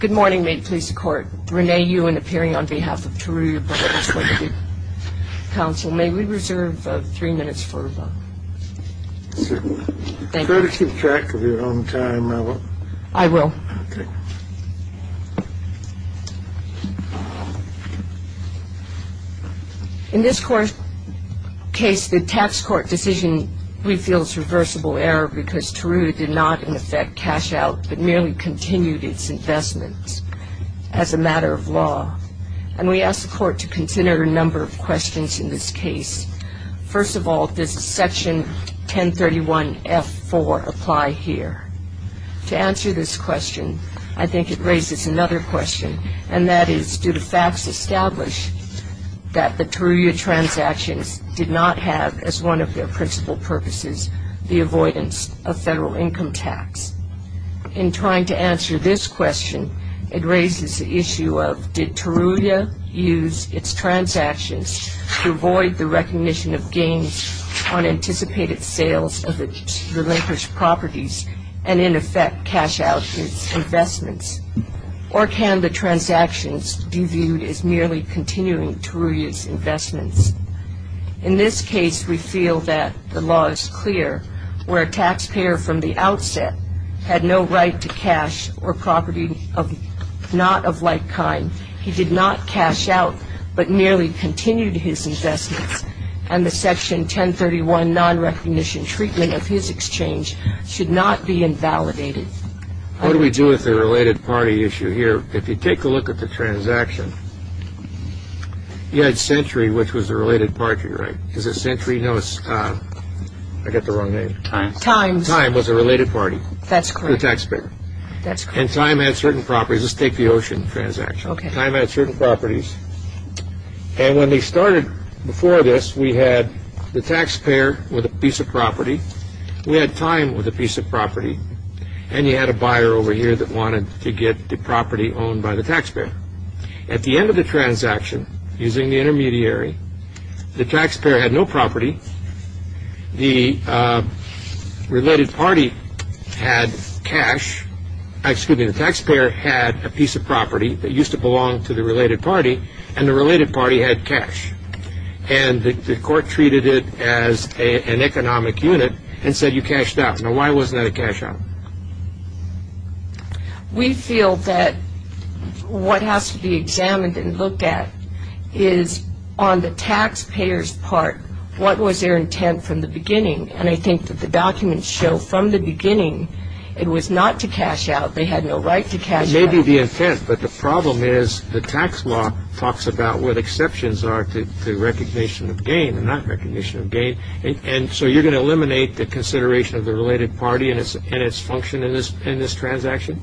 Good morning. May it please the Court. Renee Ewen, appearing on behalf of Turuya Brothers, LTD. Counsel, may we reserve three minutes for a vote? Certainly. Thank you. Try to keep track of your own time, my love. I will. Okay. In this case, the tax court decision refills reversible error because Turuya did not in effect cash out, but merely continued its investments as a matter of law. And we ask the Court to consider a number of questions in this case. First of all, does Section 1031F4 apply here? To answer this question, I think it raises another question, and that is do the facts establish that the Turuya transactions did not have, as one of their principal purposes, the avoidance of federal income tax? In trying to answer this question, it raises the issue of did Turuya use its transactions to avoid the recognition of gains on anticipated sales of its relinquished properties and in effect cash out its investments? Or can the transactions be viewed as merely continuing Turuya's investments? In this case, we feel that the law is clear, where a taxpayer from the outset had no right to cash or property not of like kind. He did not cash out, but merely continued his investments, and the Section 1031 nonrecognition treatment of his exchange should not be invalidated. What do we do with the related party issue here? If you take a look at the transaction, you had Century, which was the related party, right? Is it Century? No, it's, I get the wrong name. Time. Time was the related party. That's correct. The taxpayer. That's correct. And Time had certain properties. Let's take the Ocean transaction. Okay. Time had certain properties, and when they started before this, we had the taxpayer with a piece of property. We had Time with a piece of property, and you had a buyer over here that wanted to get the property owned by the taxpayer. At the end of the transaction, using the intermediary, the taxpayer had no property. The related party had cash. Excuse me. The taxpayer had a piece of property that used to belong to the related party, and the related party had cash, and the court treated it as an economic unit and said you cashed out. Now, why was that a cash out? We feel that what has to be examined and looked at is on the taxpayer's part, what was their intent from the beginning, and I think that the documents show from the beginning it was not to cash out. They had no right to cash out. It may be the intent, but the problem is the tax law talks about what exceptions are to recognition of gain and not recognition of gain, and so you're going to eliminate the consideration of the related party and its function in this transaction?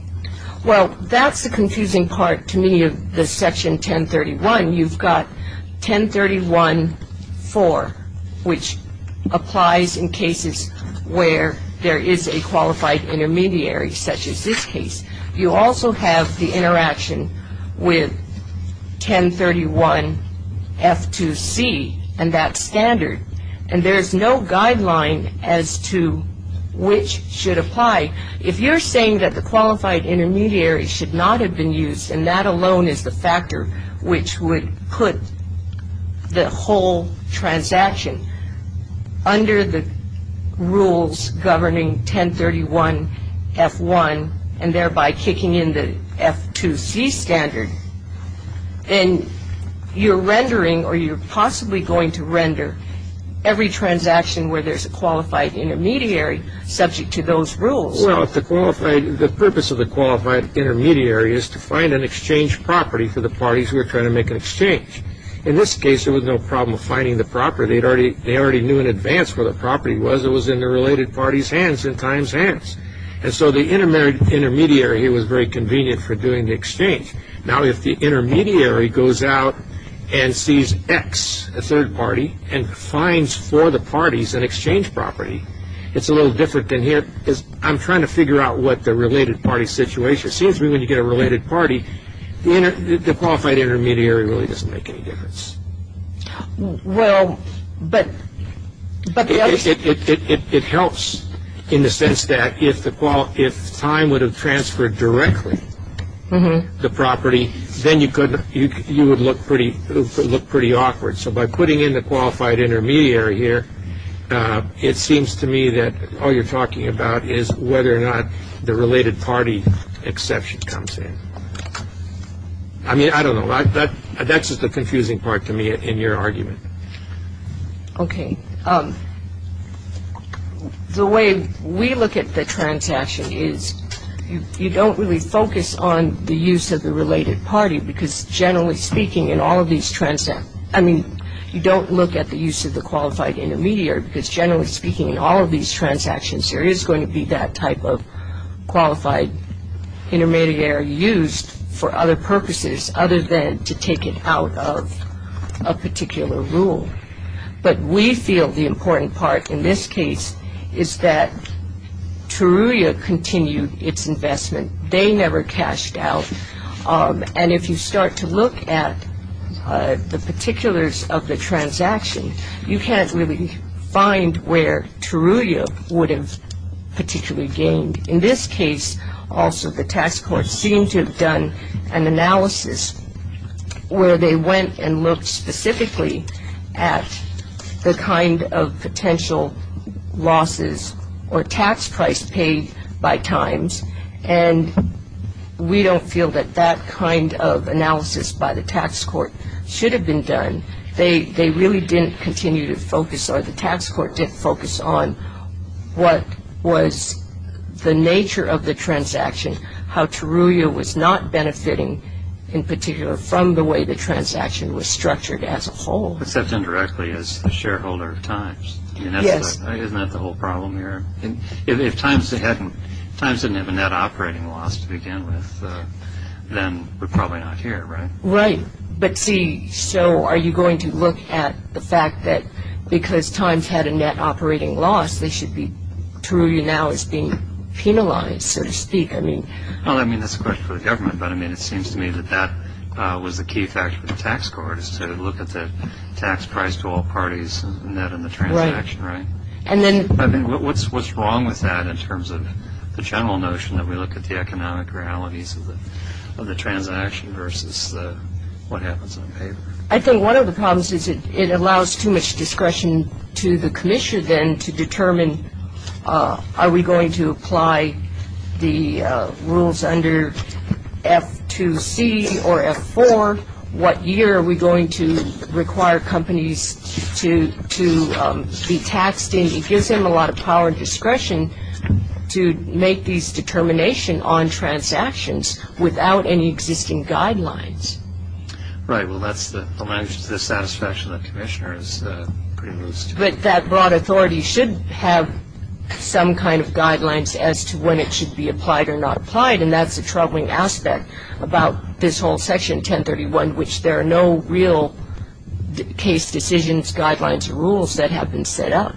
Well, that's the confusing part to me of the Section 1031. You've got 1031-4, which applies in cases where there is a qualified intermediary, such as this case. You also have the interaction with 1031-F2C and that standard, and there is no guideline as to which should apply. If you're saying that the qualified intermediary should not have been used and that alone is the factor which would put the whole transaction under the rules governing 1031-F1 and thereby kicking in the F2C standard, then you're rendering or you're possibly going to render every transaction where there's a qualified intermediary subject to those rules. Well, the purpose of the qualified intermediary is to find an exchange property for the parties who are trying to make an exchange. In this case, there was no problem finding the property. They already knew in advance where the property was. It was in the related party's hands, in time's hands, and so the intermediary here was very convenient for doing the exchange. Now, if the intermediary goes out and sees X, a third party, and finds for the parties an exchange property, it's a little different than here. I'm trying to figure out what the related party situation is. It seems to me when you get a related party, the qualified intermediary really doesn't make any difference. Well, but... It helps in the sense that if time would have transferred directly the property, then you would look pretty awkward. So by putting in the qualified intermediary here, it seems to me that all you're talking about is whether or not the related party exception comes in. I mean, I don't know. That's just the confusing part to me in your argument. Okay. The way we look at the transaction is you don't really focus on the use of the related party because generally speaking, in all of these transactions... I mean, you don't look at the use of the qualified intermediary because generally speaking, in all of these transactions, there is going to be that type of qualified intermediary used for other purposes other than to take it out of a particular rule. But we feel the important part in this case is that Teruya continued its investment. They never cashed out. And if you start to look at the particulars of the transaction, you can't really find where Teruya would have particularly gained. In this case, also, the tax court seemed to have done an analysis where they went and looked specifically at the kind of potential losses or tax price paid by times, and we don't feel that that kind of analysis by the tax court should have been done. They really didn't continue to focus or the tax court didn't focus on what was the nature of the transaction, how Teruya was not benefiting in particular from the way the transaction was structured as a whole. Except indirectly as a shareholder of times. Yes. Isn't that the whole problem here? If times didn't have a net operating loss to begin with, then we're probably not here, right? Right. But, see, so are you going to look at the fact that because times had a net operating loss, Teruya now is being penalized, so to speak? Well, I mean, that's a question for the government, but it seems to me that that was the key factor for the tax court, is to look at the tax price to all parties and that in the transaction, right? Right. What's wrong with that in terms of the general notion that we look at the economic realities of the transaction versus what happens on paper? I think one of the problems is it allows too much discretion to the commissioner then to determine, are we going to apply the rules under F2C or F4? What year are we going to require companies to be taxed in? It gives him a lot of power and discretion to make these determination on transactions without any existing guidelines. Right. Well, that's the satisfaction that the commissioner is privileged to have. But that broad authority should have some kind of guidelines as to when it should be applied or not applied, and that's the troubling aspect about this whole section, 1031, which there are no real case decisions, guidelines, or rules that have been set up.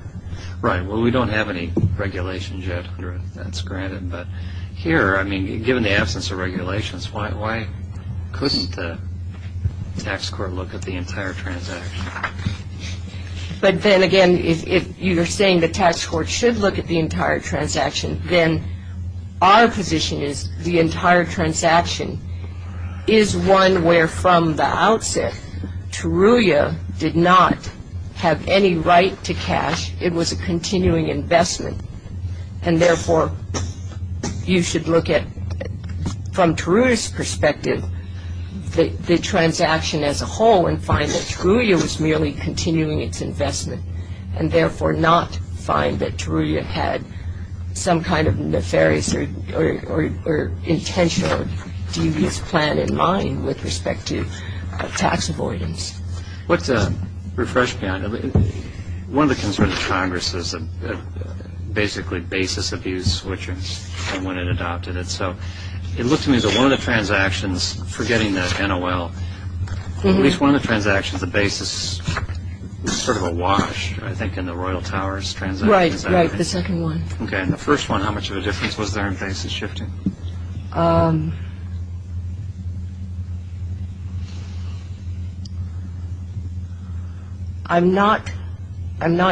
Right. Well, we don't have any regulations yet. That's granted. But here, I mean, given the absence of regulations, why couldn't the tax court look at the entire transaction? But then again, if you're saying the tax court should look at the entire transaction, then our position is the entire transaction is one where, from the outset, Teruya did not have any right to cash. It was a continuing investment. And therefore, you should look at, from Teruya's perspective, the transaction as a whole and find that Teruya was merely continuing its investment and therefore not find that Teruya had some kind of nefarious or intentional devious plan in mind with respect to tax avoidance. Let's refresh beyond. One of the concerns of Congress is basically basis abuse switchers and when it adopted it. So it looked to me as though one of the transactions, forgetting the NOL, at least one of the transactions, the basis was sort of awash, I think, in the Royal Towers transaction. Right, the second one. Okay, and the first one, how much of a difference was there in basis shifting? I'm not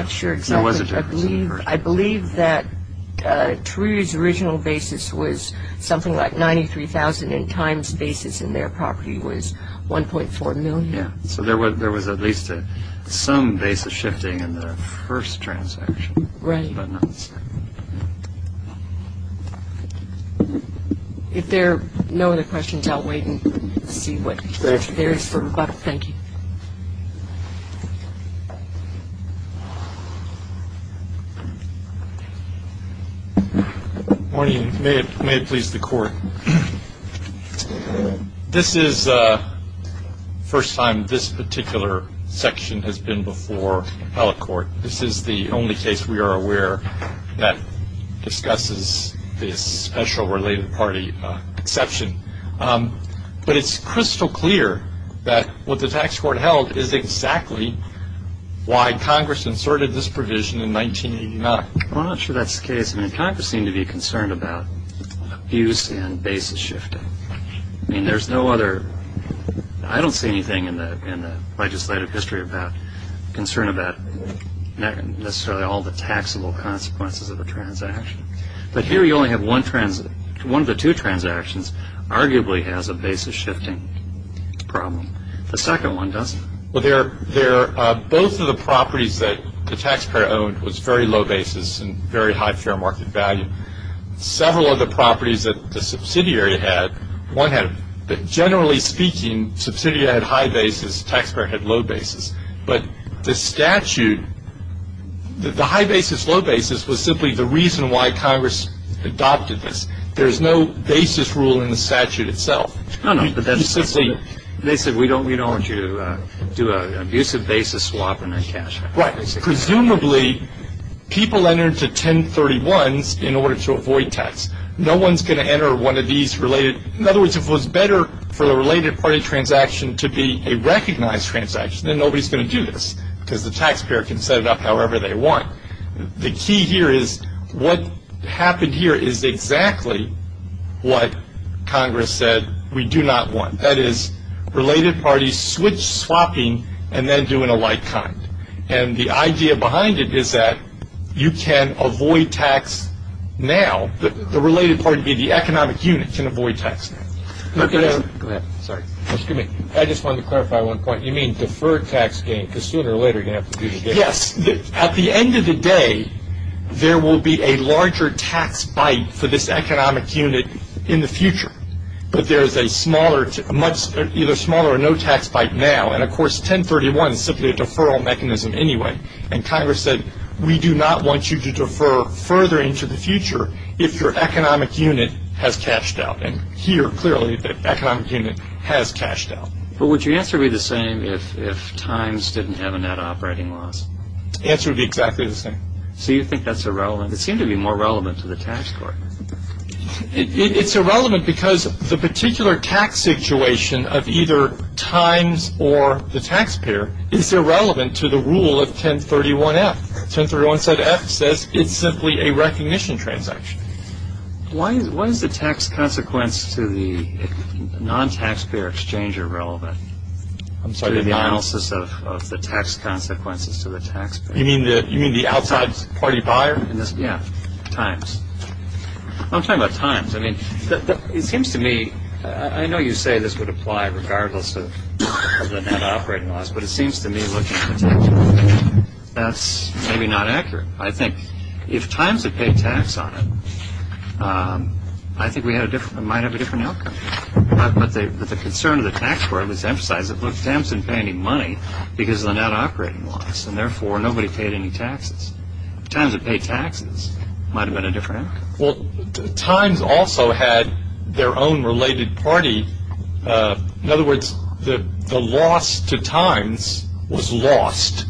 sure exactly. There was a difference. I believe that Teruya's original basis was something like 93,000 and Time's basis in their property was 1.4 million. So there was at least some basis shifting in the first transaction. Right. If there are no other questions, I'll wait and see what there is for rebuttal. Thank you. Thank you. Morning. May it please the Court. This is the first time this particular section has been before held court. This is the only case we are aware that discusses this special related party exception. But it's crystal clear that what the tax court held is exactly why Congress inserted this provision in 1989. I'm not sure that's the case. I mean, Congress seemed to be concerned about abuse and basis shifting. I mean, there's no other, I don't see anything in the legislative history about concern about necessarily all the taxable consequences of a transaction. But here you only have one of the two transactions arguably has a basis shifting problem. The second one doesn't. Well, both of the properties that the taxpayer owned was very low basis and very high fair market value. Several of the properties that the subsidiary had, one had, but generally speaking, the subsidiary had high basis, the taxpayer had low basis. But the statute, the high basis, low basis was simply the reason why Congress adopted this. There's no basis rule in the statute itself. No, no, but that's simply, they said we don't want you to do an abusive basis swap in our cash. Right. Presumably people entered to 1031s in order to avoid tax. No one's going to enter one of these related, in other words, if it was better for the related party transaction to be a recognized transaction, then nobody's going to do this because the taxpayer can set it up however they want. The key here is what happened here is exactly what Congress said we do not want. That is, related parties switch swapping and then do an alike kind. And the idea behind it is that you can avoid tax now, the related party being the economic unit can avoid tax now. Go ahead. Sorry. Excuse me. I just wanted to clarify one point. You mean defer tax gain because sooner or later you're going to have to do the gain. Yes. At the end of the day, there will be a larger tax bite for this economic unit in the future. But there is a smaller, either smaller or no tax bite now. And, of course, 1031 is simply a deferral mechanism anyway. And Congress said we do not want you to defer further into the future if your economic unit has cashed out. And here, clearly, the economic unit has cashed out. But would your answer be the same if times didn't have a net operating loss? The answer would be exactly the same. So you think that's irrelevant. It seemed to be more relevant to the tax court. It's irrelevant because the particular tax situation of either times or the taxpayer is irrelevant to the rule of 1031-F. 1031-F says it's simply a recognition transaction. Why is the tax consequence to the non-taxpayer exchanger relevant? I'm sorry. To the analysis of the tax consequences to the taxpayer. You mean the outside party buyer? Yeah, times. I'm talking about times. I mean, it seems to me, I know you say this would apply regardless of the net operating loss, but it seems to me looking at the taxpayer, that's maybe not accurate. I think if times had paid tax on it, I think we might have a different outcome. But the concern of the tax court was to emphasize that, look, times didn't pay any money because of the net operating loss, and therefore nobody paid any taxes. If times had paid taxes, it might have been a different outcome. Well, times also had their own related party. In other words, the loss to times was lost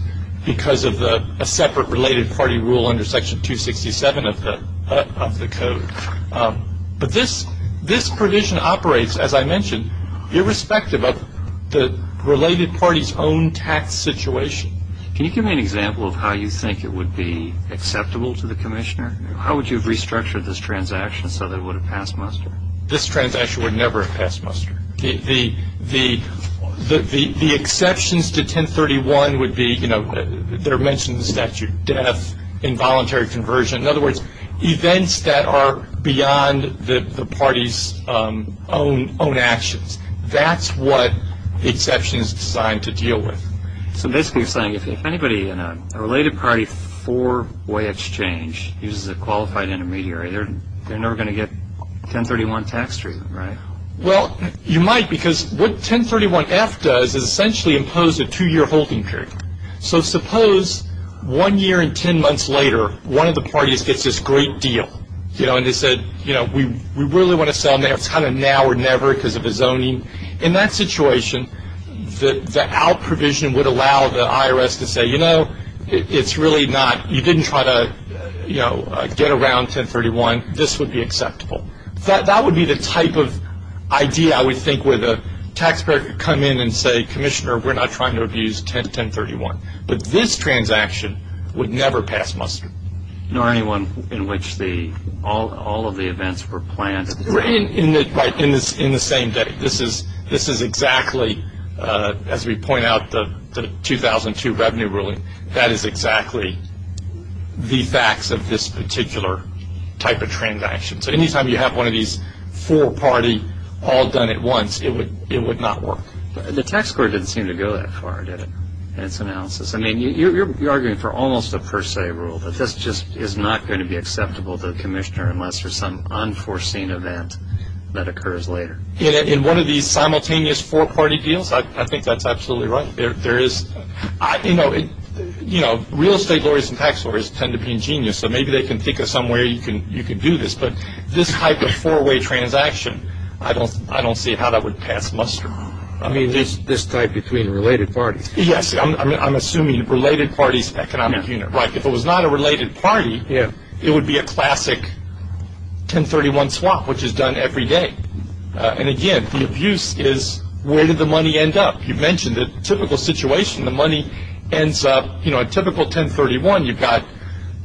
because of a separate related party rule under section 267 of the code. But this provision operates, as I mentioned, irrespective of the related party's own tax situation. Can you give me an example of how you think it would be acceptable to the commissioner? How would you have restructured this transaction so that it would have passed muster? This transaction would never have passed muster. The exceptions to 1031 would be, you know, they're mentioned in the statute, death, involuntary conversion. In other words, events that are beyond the party's own actions. That's what the exception is designed to deal with. So basically you're saying if anybody in a related party four-way exchange uses a qualified intermediary, they're never going to get 1031 tax treatment, right? Well, you might because what 1031-F does is essentially impose a two-year holding period. So suppose one year and ten months later one of the parties gets this great deal, you know, and they said, you know, we really want to sell now or never because of the zoning. In that situation, the out provision would allow the IRS to say, you know, it's really not. You didn't try to, you know, get around 1031. This would be acceptable. That would be the type of idea I would think where the taxpayer could come in and say, Commissioner, we're not trying to abuse 1031. But this transaction would never pass muster. Nor anyone in which all of the events were planned. Right, in the same day. This is exactly, as we point out, the 2002 revenue ruling. That is exactly the facts of this particular type of transaction. So any time you have one of these four-party all done at once, it would not work. The tax court didn't seem to go that far, did it, in its analysis? I mean, you're arguing for almost a per se rule that this just is not going to be acceptable to the commissioner unless there's some unforeseen event that occurs later. In one of these simultaneous four-party deals, I think that's absolutely right. You know, real estate lawyers and tax lawyers tend to be ingenious, so maybe they can think of some way you can do this. But this type of four-way transaction, I don't see how that would pass muster. I mean, this type between related parties. Yes, I'm assuming related parties economic unit. Right, if it was not a related party, it would be a classic 1031 swap, which is done every day. And again, the abuse is where did the money end up? You mentioned the typical situation. The money ends up, you know, a typical 1031, you've got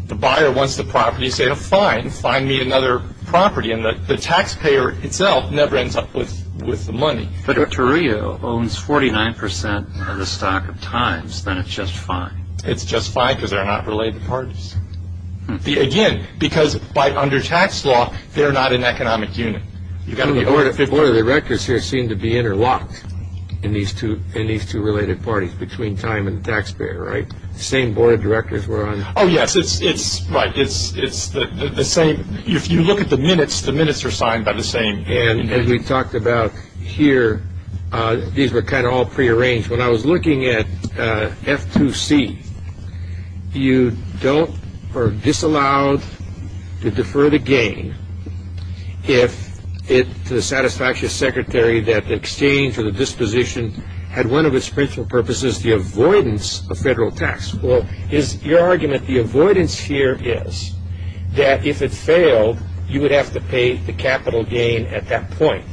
the buyer wants the property. You say, oh, fine, find me another property. And the taxpayer itself never ends up with the money. But if Toreo owns 49% of the stock at times, then it's just fine. It's just fine because they're not related parties. Again, because under tax law, they're not an economic unit. You've got to be aware that the board of directors here seem to be interlocked in these two related parties, between time and the taxpayer, right? The same board of directors were on. Oh, yes, it's right. It's the same. If you look at the minutes, the minutes are signed by the same. And as we talked about here, these were kind of all prearranged. When I was looking at F2C, you don't or are disallowed to defer the gain if to the satisfaction of the secretary that the exchange or the disposition had one of its principal purposes, the avoidance of federal tax. Well, your argument, the avoidance here is that if it failed, you would have to pay the capital gain at that point.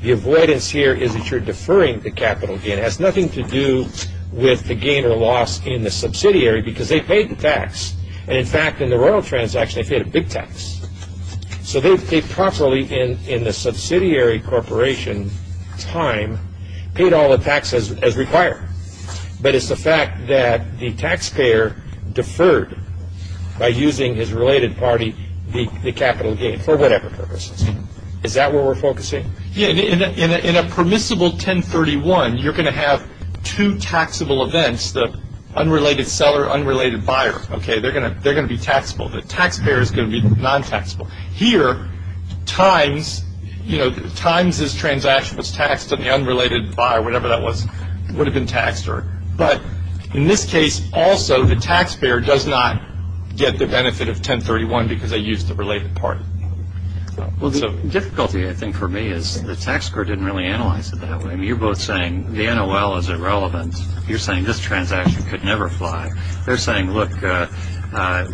The avoidance here is that you're deferring the capital gain. It has nothing to do with the gain or loss in the subsidiary because they paid the tax. And, in fact, in the royal transaction, they paid a big tax. So they properly, in the subsidiary corporation time, paid all the taxes as required. But it's the fact that the taxpayer deferred by using his related party the capital gain for whatever purposes. Is that where we're focusing? Okay. In a permissible 1031, you're going to have two taxable events, the unrelated seller, unrelated buyer. Okay. They're going to be taxable. The taxpayer is going to be non-taxable. Here, times, you know, times this transaction was taxed and the unrelated buyer, whatever that was, would have been taxed. But in this case, also, the taxpayer does not get the benefit of 1031 because they used the related party. Well, the difficulty, I think, for me is the tax court didn't really analyze it that way. I mean, you're both saying the NOL is irrelevant. You're saying this transaction could never fly. They're saying, look,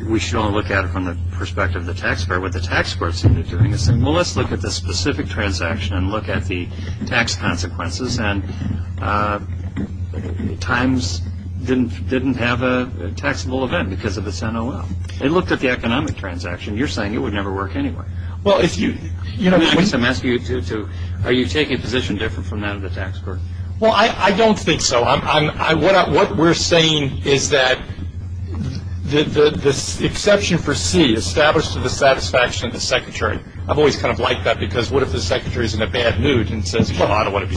we should only look at it from the perspective of the taxpayer. What the tax court is doing is saying, well, let's look at the specific transaction and look at the tax consequences. And times didn't have a taxable event because of its NOL. They looked at the economic transaction. You're saying it would never work anyway. Well, if you – I guess I'm asking you to – are you taking a position different from that of the tax court? Well, I don't think so. What we're saying is that the exception for C, established to the satisfaction of the secretary. I've always kind of liked that because what if the secretary is in a bad mood and says, well, I don't want to be –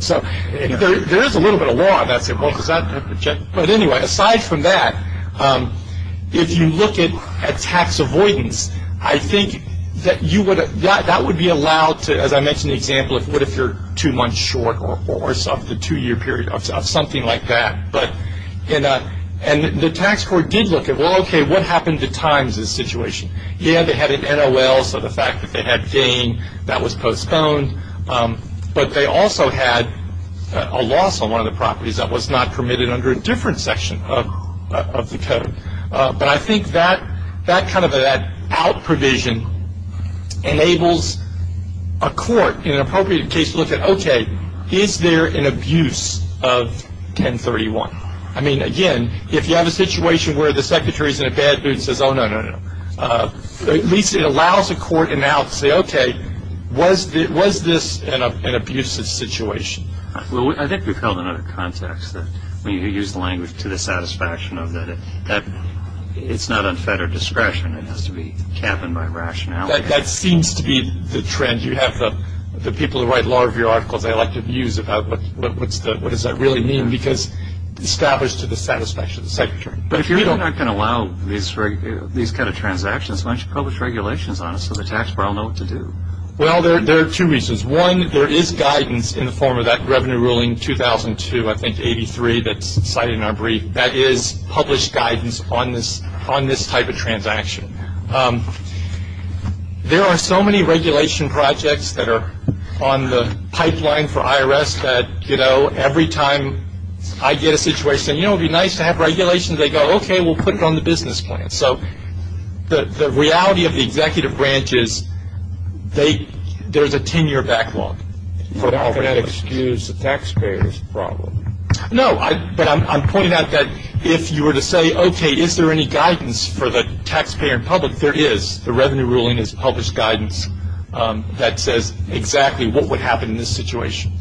so there is a little bit of law about saying, well, does that – but anyway, aside from that, if you look at tax avoidance, I think that you would – that would be allowed to – as I mentioned in the example of what if you're two months short of the two-year period, of something like that. And the tax court did look at, well, okay, what happened to times in this situation? Yeah, they had an NOL, so the fact that they had gain, that was postponed. But they also had a loss on one of the properties that was not permitted under a different section of the code. But I think that kind of that out provision enables a court in an appropriate case to look at, okay, is there an abuse of 1031? I mean, again, if you have a situation where the secretary is in a bad mood and says, oh, no, no, no, at least it allows a court in and out to say, okay, was this an abusive situation? Well, I think we've held another context that when you use the language to the satisfaction of that, that it's not unfettered discretion. It has to be chappened by rationality. That seems to be the trend. You have the people who write a lot of your articles. They like to abuse about what does that really mean? Because it's established to the satisfaction of the secretary. But if you're not going to allow these kind of transactions, why don't you publish regulations on it so the taxpayer will know what to do? Well, there are two reasons. One, there is guidance in the form of that revenue ruling 2002, I think, 83 that's cited in our brief. That is published guidance on this type of transaction. There are so many regulation projects that are on the pipeline for IRS that, you know, every time I get a situation, you know, it would be nice to have regulations, they go, okay, we'll put it on the business plan. So the reality of the executive branch is there's a 10-year backlog. You're not going to excuse the taxpayer's problem. No, but I'm pointing out that if you were to say, okay, is there any guidance for the taxpayer and public? There is. The revenue ruling is published guidance that says exactly what would happen in this situation.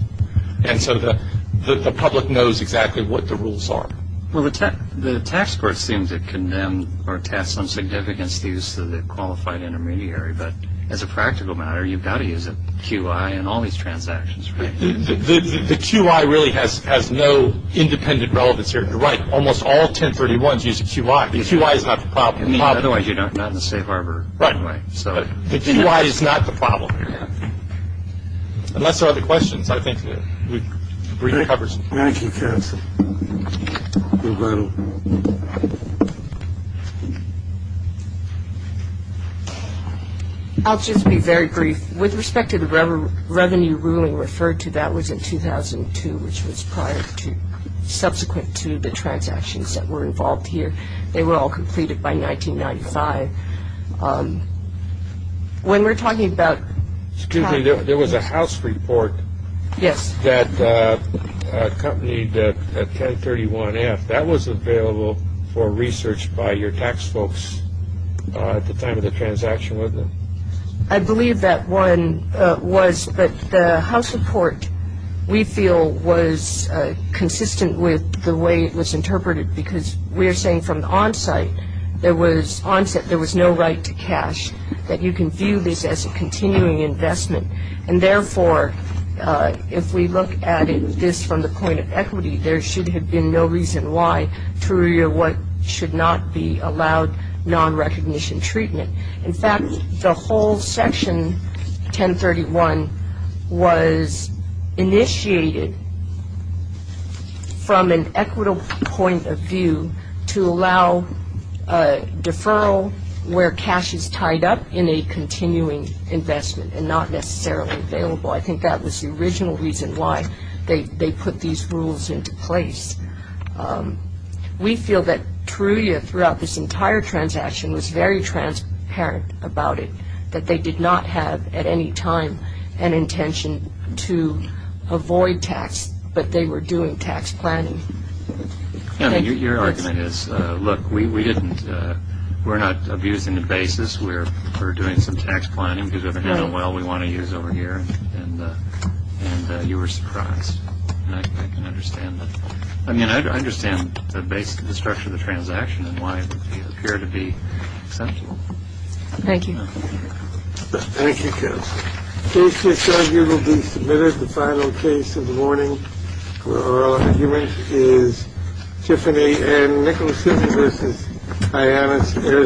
And so the public knows exactly what the rules are. Well, the tax court seems to condemn or attest some significance to the use of the qualified intermediary. But as a practical matter, you've got to use a QI in all these transactions, right? The QI really has no independent relevance here. You're right. Almost all 1031s use a QI. The QI is not the problem. Otherwise, you're not in a safe harbor anyway. Right. The QI is not the problem here. Unless there are other questions, I think we've recovered some. Thank you, counsel. I'll just be very brief. With respect to the revenue ruling referred to, that was in 2002, which was prior to subsequent to the transactions that were involved here. They were all completed by 1995. When we're talking about- Excuse me. There was a house report. Yes. That accompanied 1031F. That was available for research by your tax folks at the time of the transaction, wasn't it? I believe that one was. But the house report, we feel, was consistent with the way it was interpreted because we're saying from the onsite, there was no right to cash, that you can view this as a continuing investment. And therefore, if we look at this from the point of equity, there should have been no reason why TOURIA should not be allowed non-recognition treatment. In fact, the whole section 1031 was initiated from an equitable point of view to allow deferral where cash is tied up in a continuing investment and not necessarily available. I think that was the original reason why they put these rules into place. We feel that TOURIA throughout this entire transaction was very transparent about it, that they did not have at any time an intention to avoid tax, but they were doing tax planning. Your argument is, look, we're not abusing the basis. We're doing some tax planning because we have an NOL we want to use over here. And you were surprised. I can understand that. I mean, I understand the structure of the transaction and why it would appear to be essential. Thank you. Thank you. Case disargued will be submitted. The final case of the morning for our argument is Tiffany and Nicholas. This is Diana's air service.